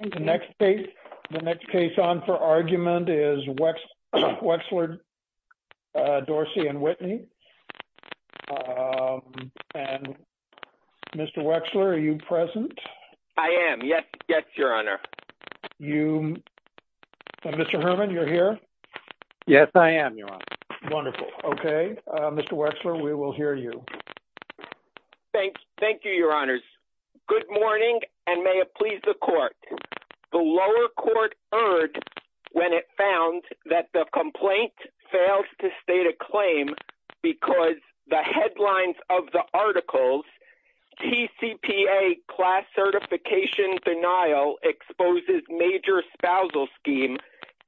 The next case on for argument is Wexler v. Dorsey & Whitney. Mr. Wexler, are you present? I am. Yes, Your Honor. Mr. Herman, you're here? Yes, I am, Your Honor. Wonderful. Okay. Mr. Wexler, we will hear you. Thank you, Your Honors. Good morning, and may it please the Court. The lower court erred when it found that the complaint fails to state a claim because the headlines of the articles, T.C.P.A. class certification denial exposes major spousal scheme,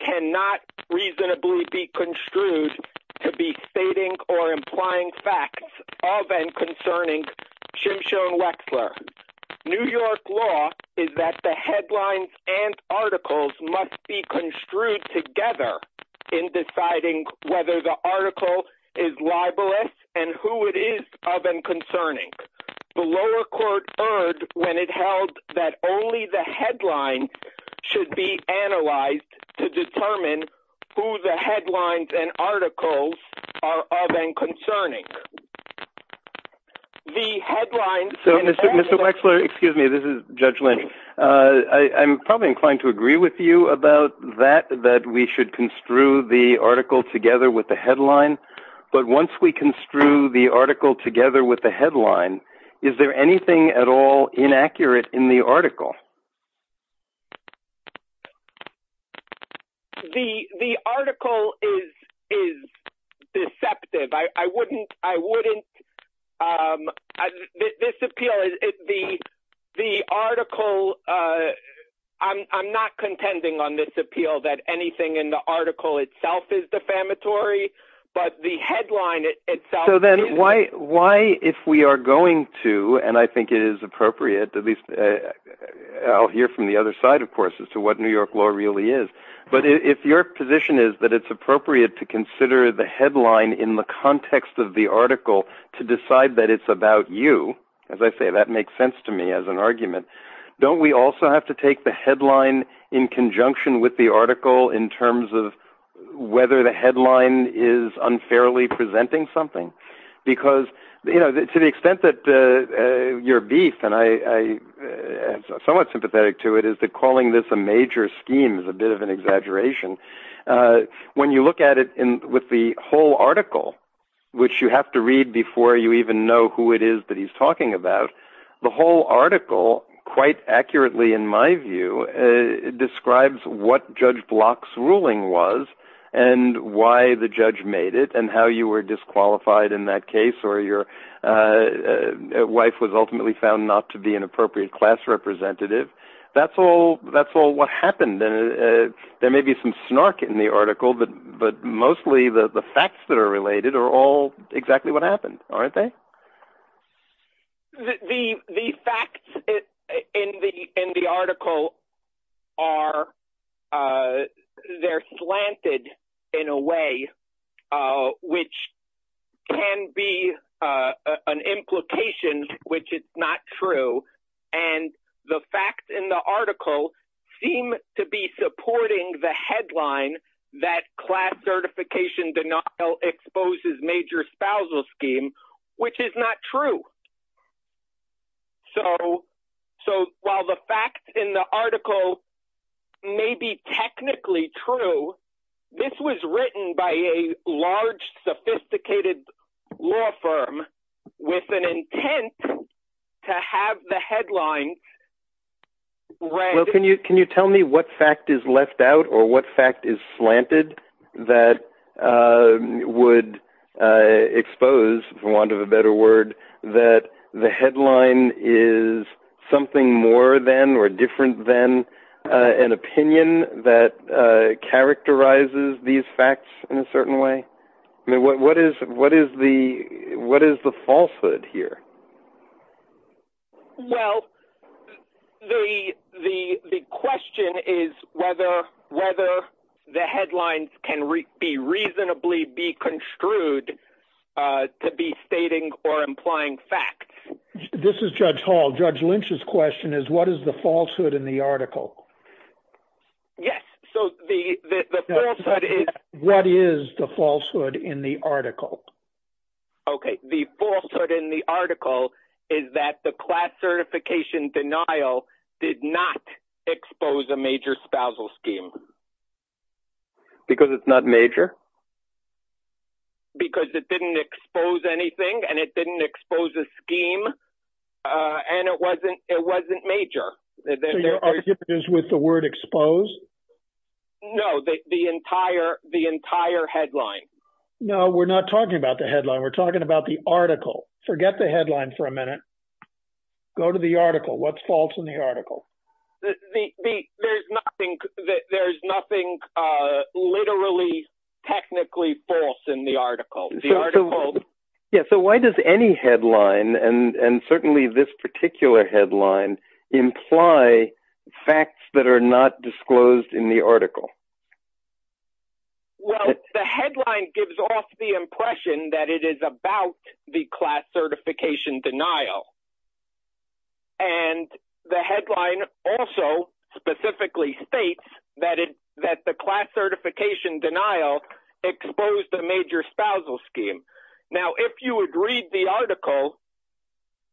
cannot reasonably be construed to be stating or implying facts of and concerning Shimshon Wexler. New York law is that the headlines and articles must be construed together in deciding whether the article is libelous and who it is of and concerning. The lower court erred when it held that only the headlines should be analyzed to determine who the headlines and articles are of and concerning. Mr. Wexler, excuse me, this is Judge Lynch. I'm probably inclined to agree with you about that, that we should construe the article together with the headline. But once we construe the article together with the headline, is there anything at all inaccurate in the article? The article is deceptive. I wouldn't, I wouldn't, this appeal, the article, I'm not contending on this appeal that anything in the article itself is defamatory, but the headline itself is. So then why, why if we are going to, and I think it is appropriate, at least I'll hear from the other side, of course, as to what New York law really is. But if your position is that it's appropriate to consider the headline in the context of the article to decide that it's about you, as I say, that makes sense to me as an argument. Don't we also have to take the headline in conjunction with the article in terms of whether the headline is unfairly presenting something? Because, you know, to the extent that your beef, and I am somewhat sympathetic to it, is that calling this a major scheme is a bit of an exaggeration. When you look at it with the whole article, which you have to read before you even know who it is that he's talking about, the whole article, quite accurately in my view, describes what Judge Block's ruling was and why the judge made it and how you were disqualified in that case, or your wife was ultimately found not to be an appropriate class representative. That's all what happened, and there may be some snark in the article, but mostly the facts that are related are all exactly what happened, aren't they? The facts in the article are slanted in a way which can be an implication which is not true, and the facts in the article seem to be supporting the headline that class certification denial exposes major spousal scheme, which is not true. So while the facts in the article may be technically true, this was written by a large, sophisticated law firm with an intent to have the headline read. Can you tell me what fact is left out or what fact is slanted that would expose, for want of a better word, that the headline is something more than or different than an opinion that characterizes these facts in a certain way? What is the falsehood here? Well, the question is whether the headlines can reasonably be construed to be stating or implying facts. This is Judge Hall. Judge Lynch's question is, what is the falsehood in the article? Yes, so the falsehood is... What is the falsehood in the article? Okay, the falsehood in the article is that the class certification denial did not expose a major spousal scheme. Because it's not major? Because it didn't expose anything, and it didn't expose a scheme, and it wasn't major. So your argument is with the word expose? No, the entire headline. No, we're not talking about the headline. We're talking about the article. Forget the headline for a minute. Go to the article. What's false in the article? There's nothing literally, technically false in the article. So why does any headline, and certainly this particular headline, imply facts that are not disclosed in the article? Well, the headline gives off the impression that it is about the class certification denial. And the headline also specifically states that the class certification denial exposed a major spousal scheme. Now, if you would read the article,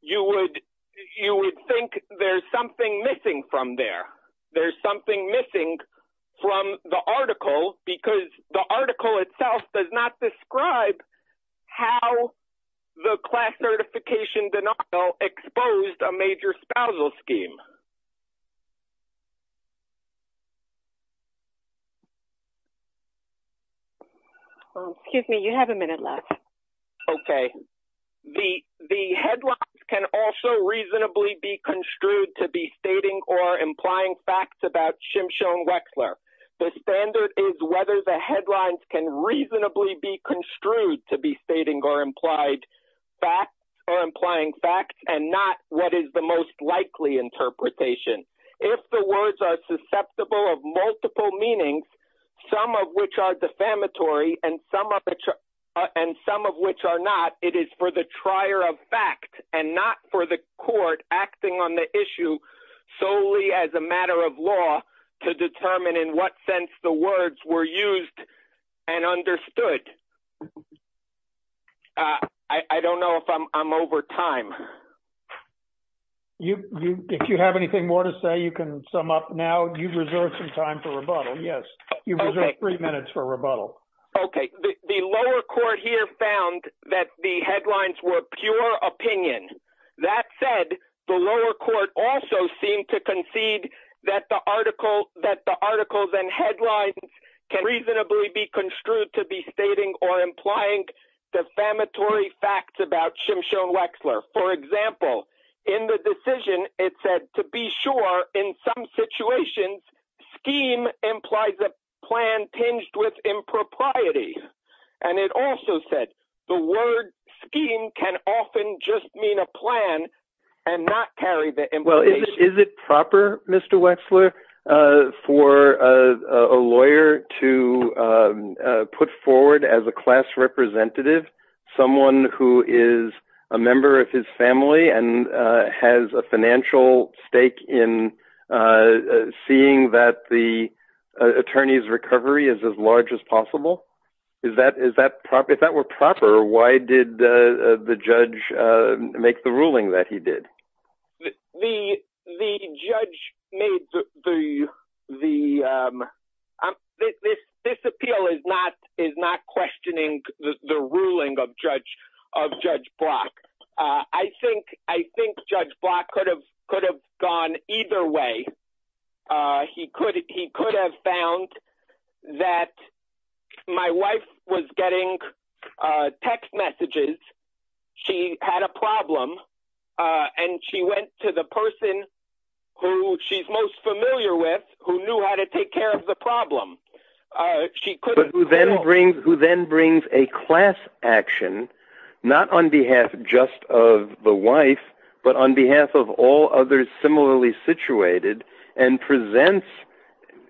you would think there's something missing from there. There's something missing from the article, because the article itself does not describe how the class certification denial exposed a major spousal scheme. Excuse me, you have a minute left. Okay. The headlines can also reasonably be construed to be stating or implying facts about Shimshon Wexler. The standard is whether the headlines can reasonably be construed to be stating or implying facts and not what is the most likely interpretation. If the words are susceptible of multiple meanings, some of which are defamatory and some of which are not, it is for the trier of fact and not for the court acting on the issue solely as a matter of law to determine in what sense the words were used and understood. I don't know if I'm over time. If you have anything more to say, you can sum up now. You've reserved some time for rebuttal, yes. You've reserved three minutes for rebuttal. Okay. The lower court here found that the headlines were pure opinion. That said, the lower court also seemed to concede that the articles and headlines can reasonably be construed to be stating or implying defamatory facts about Shimshon Wexler. For example, in the decision it said, to be sure, in some situations, scheme implies a plan tinged with impropriety. And it also said the word scheme can often just mean a plan and not carry the implication. Is it proper, Mr. Wexler, for a lawyer to put forward as a class representative someone who is a member of his family and has a financial stake in seeing that the attorney's recovery is as large as possible? If that were proper, why did the judge make the ruling that he did? The judge made the... This appeal is not questioning the ruling of Judge Block. I think Judge Block could have gone either way. He could have found that my wife was getting text messages, she had a problem, and she went to the person who she's most familiar with, who knew how to take care of the problem. But who then brings a class action, not on behalf just of the wife, but on behalf of all others similarly situated, and presents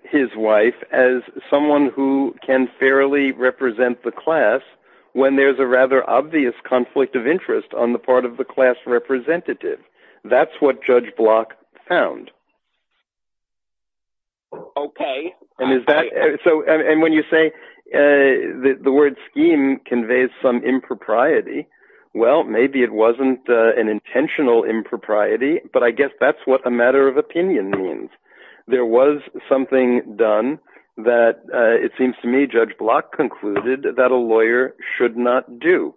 his wife as someone who can fairly represent the class when there's a rather obvious conflict of interest on the part of the class representative. That's what Judge Block found. Okay. And when you say the word scheme conveys some impropriety, well, maybe it wasn't an intentional impropriety, but I guess that's what a matter of opinion means. There was something done that it seems to me Judge Block concluded that a lawyer should not do.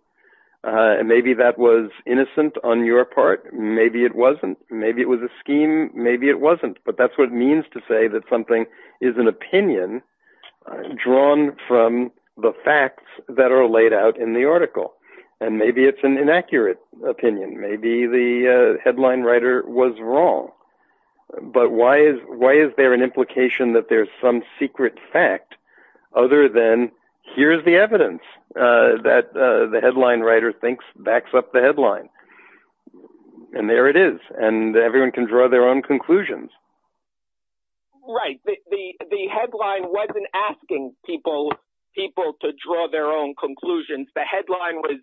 Maybe that was innocent on your part. Maybe it wasn't. Maybe it was a scheme. Maybe it wasn't. But that's what it means to say that something is an opinion drawn from the facts that are laid out in the article. And maybe it's an inaccurate opinion. Maybe the headline writer was wrong. But why is there an implication that there's some secret fact other than here's the evidence that the headline writer thinks backs up the headline? And there it is. And everyone can draw their own conclusions. Right. The headline wasn't asking people to draw their own conclusions. The headline was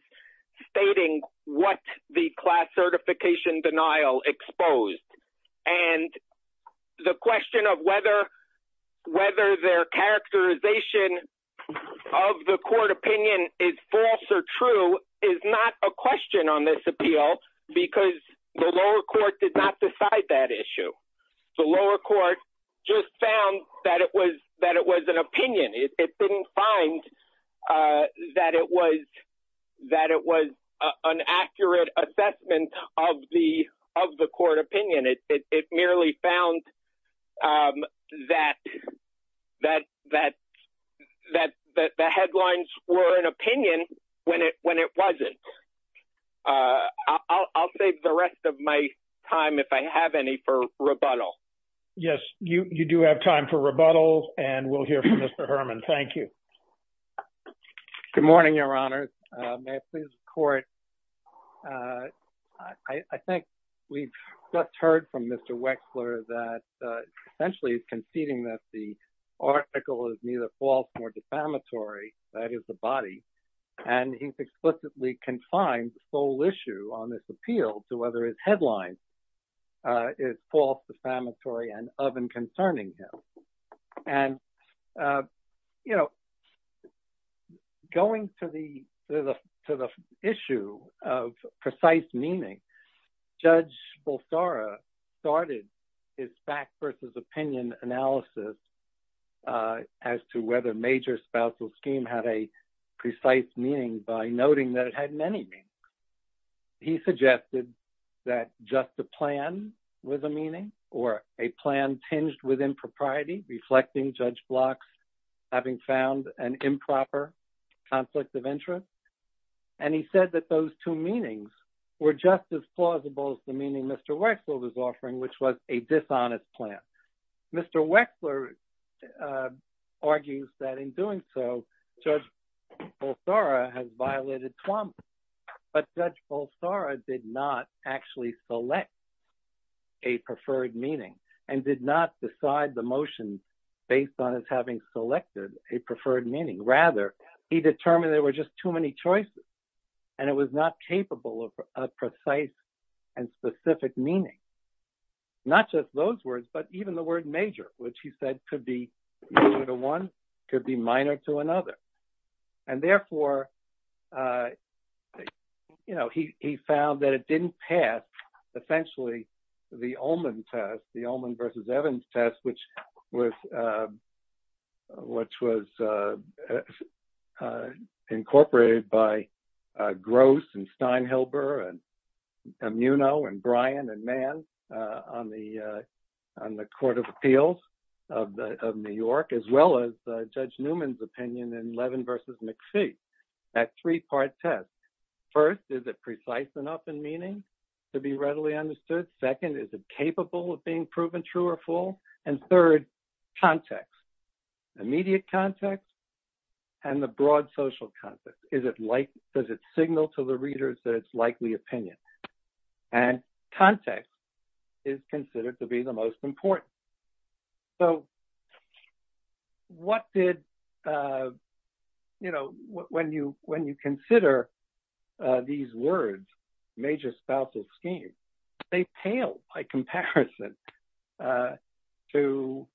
stating what the class certification denial exposed. And the question of whether their characterization of the court opinion is false or true is not a question on this appeal because the lower court did not decide that issue. The lower court just found that it was an opinion. It didn't find that it was an accurate assessment of the court opinion. It merely found that the headlines were an opinion when it wasn't. I'll save the rest of my time if I have any for rebuttal. Yes. You do have time for rebuttal. And we'll hear from Mr. Herman. Thank you. Good morning, Your Honor. May I please report. I think we've just heard from Mr. Wexler that essentially he's conceding that the article is neither false nor defamatory. That is the body. And he's explicitly confined the sole issue on this appeal to whether his headline is false, defamatory and of and concerning him. And, you know, going to the issue of precise meaning, Judge Bolsara started his fact versus opinion analysis as to whether major spousal scheme had a precise meaning by noting that it had many meanings. He suggested that just the plan was a meaning or a plan tinged with impropriety, reflecting Judge Bloch's having found an improper conflict of interest. And he said that those two meanings were just as plausible as the meaning Mr. Wexler was offering, which was a dishonest plan. Mr. Wexler argues that in doing so, Judge Bolsara has violated Tuamot. But Judge Bolsara did not actually select a preferred meaning and did not decide the motion based on his having selected a preferred meaning. Rather, he determined there were just too many choices and it was not capable of a precise and specific meaning. Not just those words, but even the word major, which he said could be one could be minor to another. And therefore, you know, he found that it didn't pass, essentially, the Ullman test, the Ullman versus Evans test, which was which was incorporated by Gross and Steinhelber and Muno and Bryan and Mann on the on the Court of Appeals of New York, as well as Judge Newman's opinion in Levin versus McPhee, that three-part test. First, is it precise enough in meaning to be readily understood? Second, is it capable of being proven true or false? And third, context, immediate context and the broad social context. Does it signal to the readers that it's likely opinion? And context is considered to be the most important. So what did, you know, when you when you consider these words, major spousal schemes, they pale by comparison to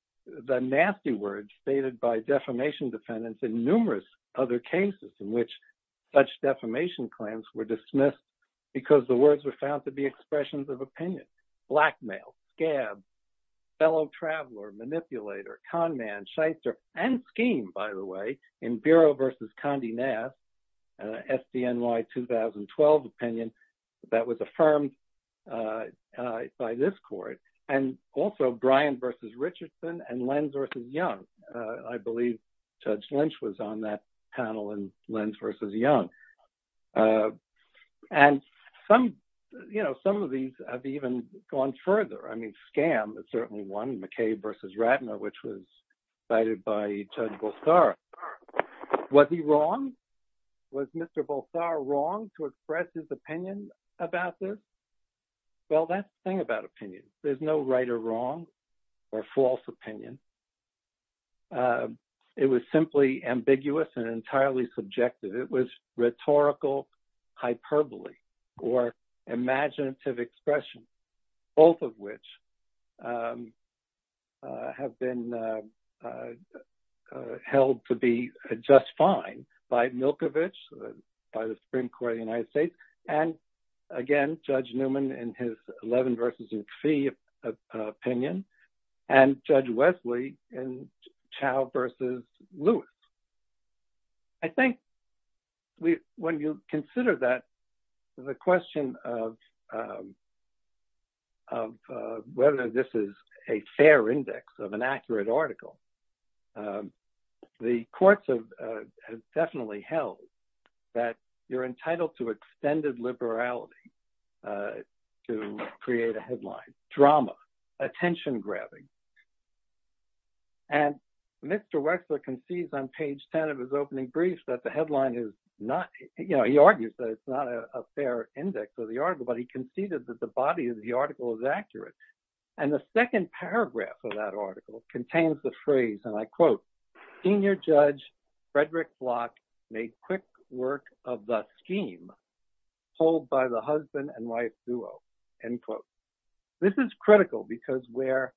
the nasty words stated by defamation defendants in numerous other cases, in which such defamation claims were dismissed because the words were found to be expressions of opinion. Blackmail, scab, fellow traveler, manipulator, conman, shyster, and scheme, by the way, in Bureau versus Condé Nast, SDNY 2012 opinion that was affirmed by this court. And also Bryan versus Richardson and Lenz versus Young. I believe Judge Lynch was on that panel and Lenz versus Young. And some, you know, some of these have even gone further. I mean, scam is certainly one. McKay versus Ratner, which was cited by Judge Bulsar. Was he wrong? Was Mr. Bulsar wrong to express his opinion about this? Well, that's the thing about opinion. There's no right or wrong or false opinion. It was simply ambiguous and entirely subjective. It was rhetorical hyperbole or imaginative expression, both of which have been held to be just fine by Milkovich, by the Supreme Court of the United States. And again, Judge Newman and his Levin versus McPhee opinion and Judge Wesley and Chow versus Lewis. I think when you consider that, the question of whether this is a fair index of an accurate article, the courts have definitely held that you're entitled to extended liberality to create a headline, drama, attention grabbing. And Mr. Wexler concedes on page 10 of his opening brief that the headline is not, you know, he argues that it's not a fair index of the article, but he conceded that the body of the article is accurate. And the second paragraph of that article contains the phrase, and I quote, Senior Judge Frederick Block made quick work of the scheme pulled by the husband and wife duo, end quote. This is critical because where,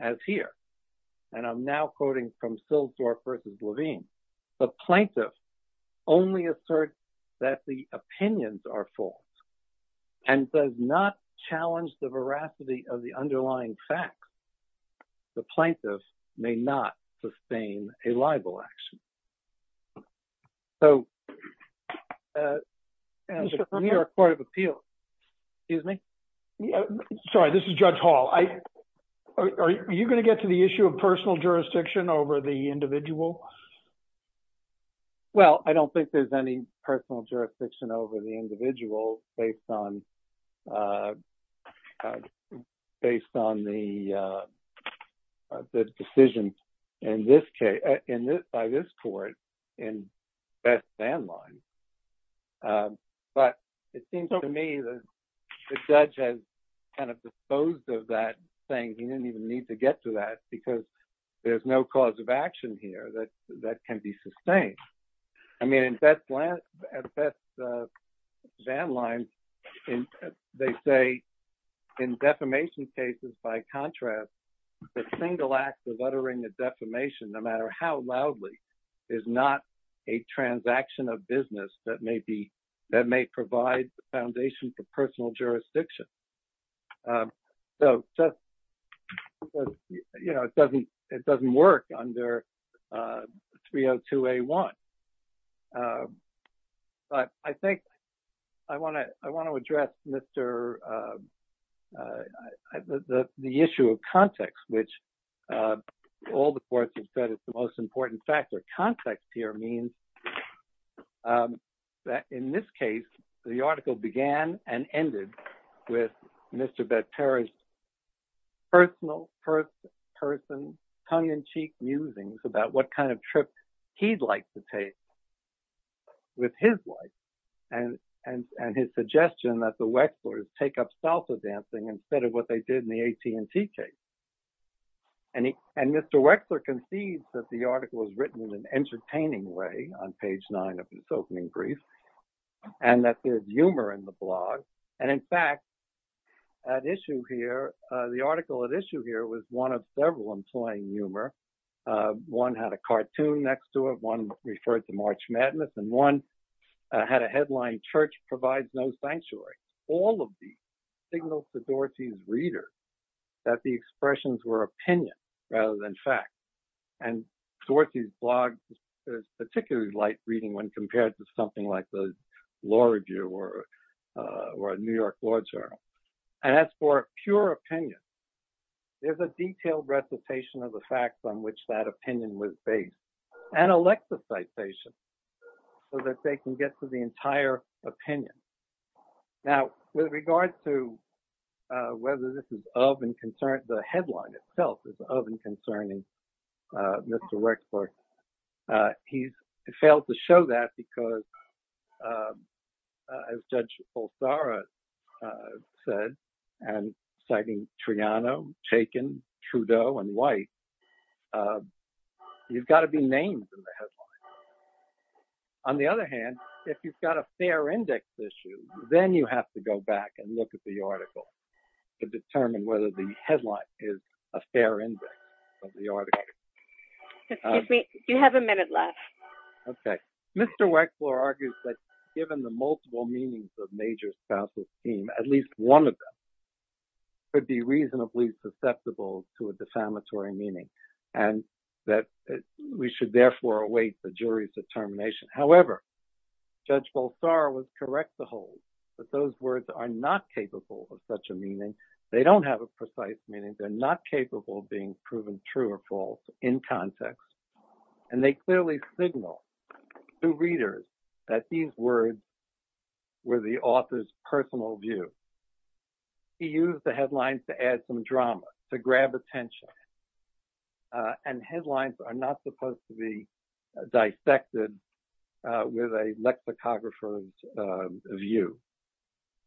as here, and I'm now quoting from Silsdorf versus Levin, the plaintiff only asserts that the opinions are false. And does not challenge the veracity of the underlying facts. The plaintiff may not sustain a libel action. So, New York Court of Appeals. Excuse me. Sorry, this is Judge Hall. Are you going to get to the issue of personal jurisdiction over the individual? Well, I don't think there's any personal jurisdiction over the individual based on the decisions by this court in best manner. But it seems to me that the judge has kind of disposed of that thing. He didn't even need to get to that because there's no cause of action here that that can be sustained. I mean, at best, Van Lines, they say in defamation cases, by contrast, the single act of uttering a defamation, no matter how loudly, is not a transaction of business that may be that may provide foundation for personal jurisdiction. So, you know, it doesn't it doesn't work under 302A1. But I think I want to I want to address Mr. The issue of context, which all the courts have said is the most important factor. And I think the context here means that in this case, the article began and ended with Mr. Bett Parish's personal first person tongue in cheek musings about what kind of trip he'd like to take with his wife and his suggestion that the Wexlers take up salsa dancing instead of what they did in the AT&T case. And Mr. Wexler concedes that the article was written in an entertaining way on page nine of his opening brief and that there's humor in the blog. And in fact, at issue here, the article at issue here was one of several employing humor. One had a cartoon next to it. One referred to March Madness and one had a headline church provides no sanctuary. All of these signals to Dorsey's reader that the expressions were opinion rather than fact. And Dorsey's blog is particularly light reading when compared to something like the law review or or a New York Law Journal. And that's for pure opinion. There's a detailed recitation of the facts on which that opinion was based and Alexa citation so that they can get to the entire opinion. Now, with regards to whether this is of and concern, the headline itself is of and concerning Mr. Wexler. He's failed to show that because, as Judge Pulsara said, and citing Triano, Chaykin, Trudeau and White, you've got to be named. On the other hand, if you've got a fair index issue, then you have to go back and look at the article to determine whether the headline is a fair index of the article. You have a minute left. OK. Mr. Wexler argues that given the multiple meanings of major spouses team, at least one of them. Could be reasonably susceptible to a defamatory meaning and that we should therefore await the jury's determination. However, Judge Pulsara was correct to hold that those words are not capable of such a meaning. They don't have a precise meaning. They're not capable of being proven true or false in context. And they clearly signal to readers that these words were the author's personal view. He used the headlines to add some drama, to grab attention. And headlines are not supposed to be dissected with a lexicographer's view.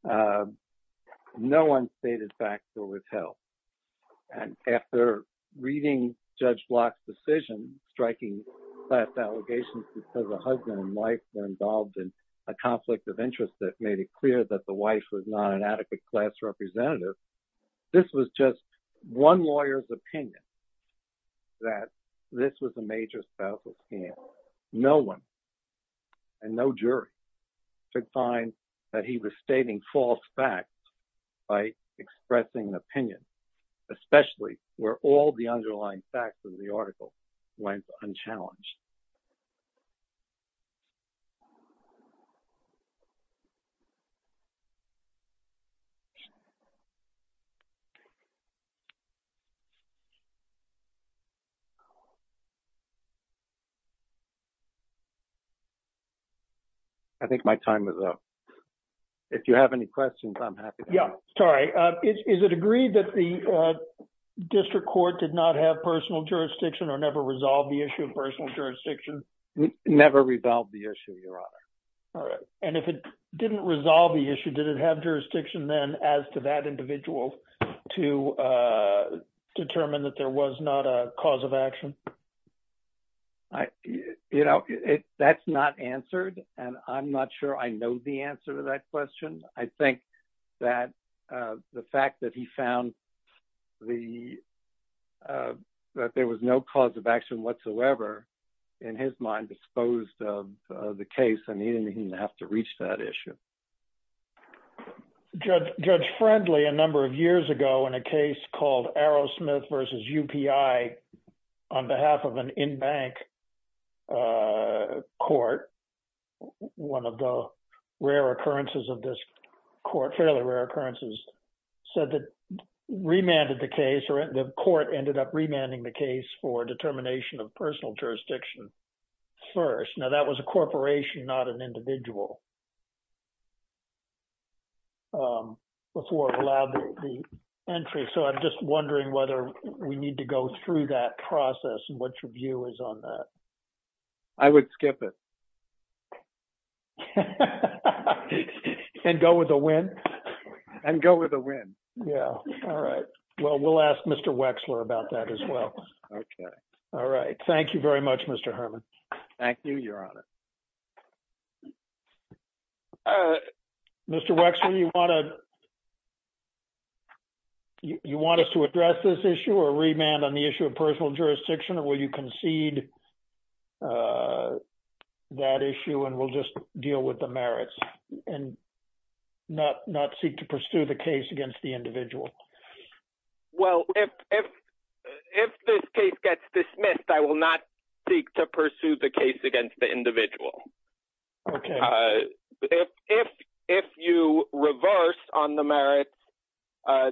No one stated back to his health. And after reading Judge Block's decision, striking class allegations because a husband and wife were involved in a conflict of interest that made it clear that the wife was not an adequate class representative. This was just one lawyer's opinion that this was a major spousal team. No one. And no jury could find that he was stating false facts by expressing an opinion, especially where all the underlying facts of the article went unchallenged. I think my time is up. If you have any questions, I'm happy. Yeah, sorry. Is it agreed that the district court did not have personal jurisdiction or never resolved the issue of personal jurisdiction? Never resolved the issue, Your Honor. All right. And if it didn't resolve the issue, did it have jurisdiction then as to that individual to determine that there was not a cause of action? You know, that's not answered. And I'm not sure I know the answer to that question. I think that the fact that he found that there was no cause of action whatsoever in his mind disposed of the case, I mean, he didn't have to reach that issue. Judge Friendly, a number of years ago in a case called Arrowsmith versus UPI on behalf of an in-bank court, one of the rare occurrences of this court, fairly rare occurrences, said that remanded the case or the court ended up remanding the case for determination of personal jurisdiction first. Now, that was a corporation, not an individual before it allowed the entry. So I'm just wondering whether we need to go through that process and what your view is on that. I would skip it. And go with a win? And go with a win. Yeah. All right. Well, we'll ask Mr. Wexler about that as well. Okay. All right. Thank you very much, Mr. Herman. Thank you, Your Honor. Mr. Wexler, you want us to address this issue or remand on the issue of personal jurisdiction or will you concede that issue and we'll just deal with the merits and not seek to pursue the case against the individual? Well, if this case gets dismissed, I will not seek to pursue the case against the individual. Okay. If you reverse on the merits,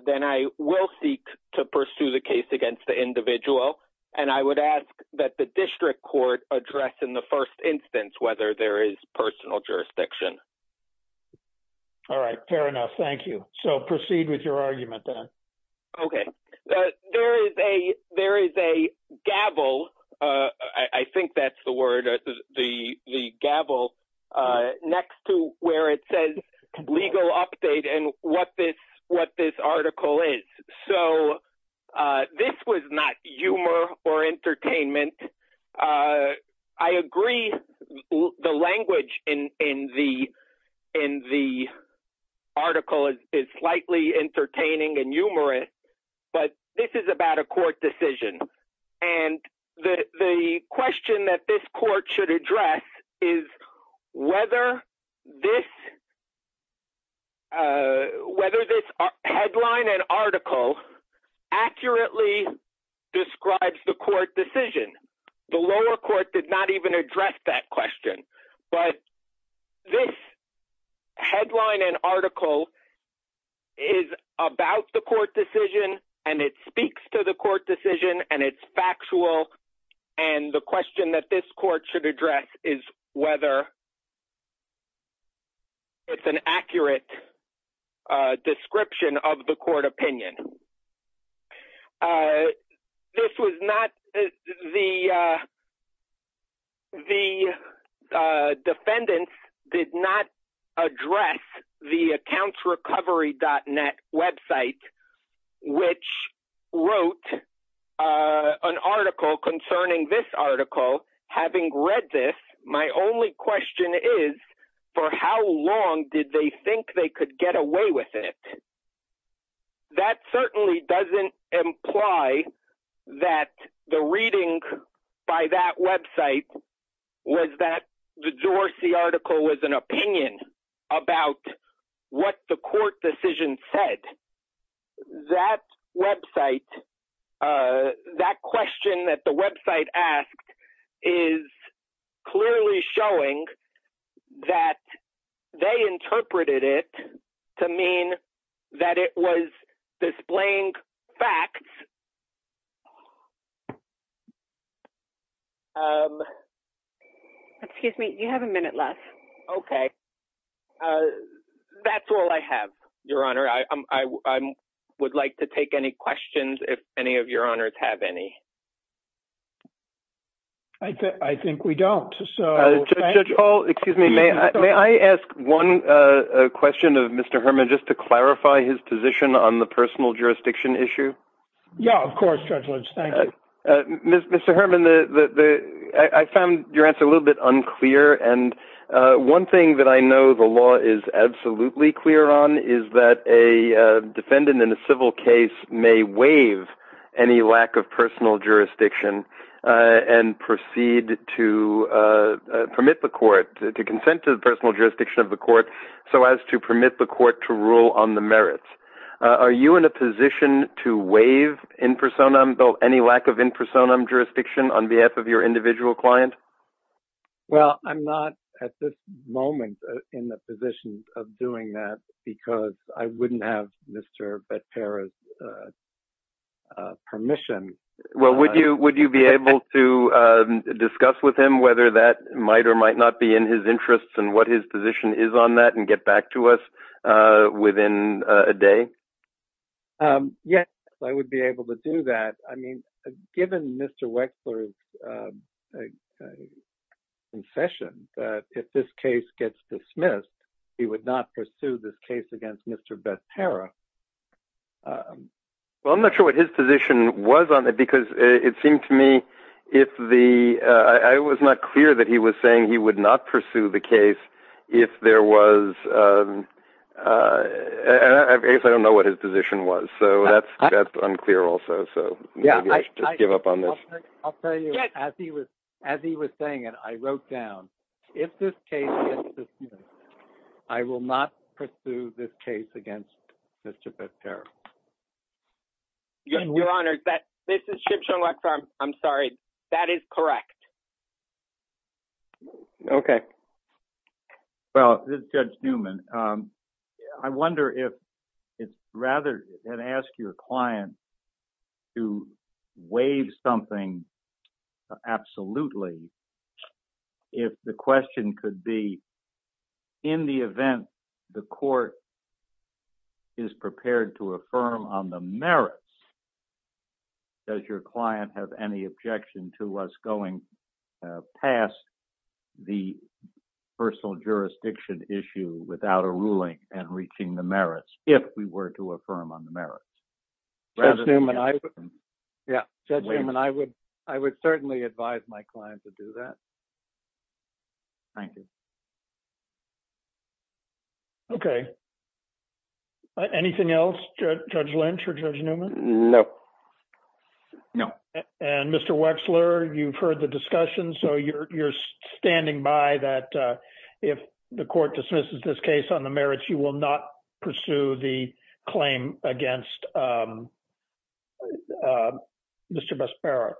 then I will seek to pursue the case against the individual. And I would ask that the district court address in the first instance whether there is personal jurisdiction. All right. Fair enough. Thank you. So proceed with your argument then. Okay. There is a gavel, I think that's the word, the gavel next to where it says legal update and what this article is. So this was not humor or entertainment. I agree the language in the article is slightly entertaining and humorous, but this is about a court decision. And the question that this court should address is whether this headline and article accurately describes the court decision. The lower court did not even address that question. But this headline and article is about the court decision and it speaks to the court decision and it's factual. And the question that this court should address is whether it's an accurate description of the court opinion. The defendants did not address the accountsrecovery.net website, which wrote an article concerning this article. Having read this, my only question is for how long did they think they could get away with it? That certainly doesn't imply that the reading by that website was that the Dorsey article was an opinion about what the court decision said. That website, that question that the website asked is clearly showing that they interpreted it to mean that it was displaying facts. Excuse me, you have a minute left. Okay. That's all I have, Your Honor. I would like to take any questions if any of Your Honors have any. I think we don't. Judge Hall, excuse me, may I ask one question of Mr. Herman just to clarify his position on the personal jurisdiction issue? Yeah, of course, Judge Lynch. Thank you. Mr. Herman, I found your answer a little bit unclear. And one thing that I know the law is absolutely clear on is that a defendant in a civil case may waive any lack of personal jurisdiction and proceed to permit the court to consent to the personal jurisdiction of the court so as to permit the court to rule on the merits. Are you in a position to waive in personam, any lack of in personam jurisdiction on behalf of your individual client? Well, I'm not at this moment in the position of doing that because I wouldn't have Mr. Bettera's permission. Well, would you be able to discuss with him whether that might or might not be in his interests and what his position is on that and get back to us within a day? Yes, I would be able to do that. I mean, given Mr. Wexler's concession that if this case gets dismissed, he would not pursue this case against Mr. Bettera. Well, I'm not sure what his position was on it because it seemed to me if the – I was not clear that he was saying he would not pursue the case if there was – I don't know what his position was. So that's unclear also. So maybe I should just give up on this. I'll tell you, as he was saying it, I wrote down, if this case gets dismissed, I will not pursue this case against Mr. Bettera. Your Honor, this is Chip Schumacher. I'm sorry. That is correct. Okay. Well, Judge Newman, I wonder if it's rather – and ask your client to waive something absolutely. If the question could be, in the event the court is prepared to affirm on the merits, does your client have any objection to us going past the personal jurisdiction issue without a ruling and reaching the merits if we were to affirm on the merits? Judge Newman, I would – yeah, Judge Newman, I would certainly advise my client to do that. Thank you. Okay. Anything else, Judge Lynch or Judge Newman? No. No. And Mr. Wexler, you've heard the discussion, so you're standing by that if the court dismisses this case on the merits, you will not pursue the claim against Mr. Bettera?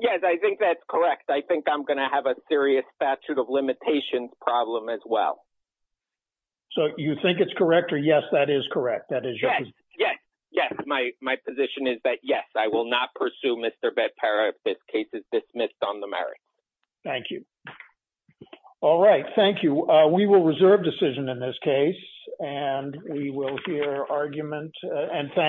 Yes, I think that's correct. I think I'm going to have a serious statute of limitations problem as well. So you think it's correct, or yes, that is correct? That is your – Yes, I will not pursue Mr. Bettera if this case is dismissed on the merits. Thank you. All right. Thank you. We will reserve decision in this case, and we will hear argument.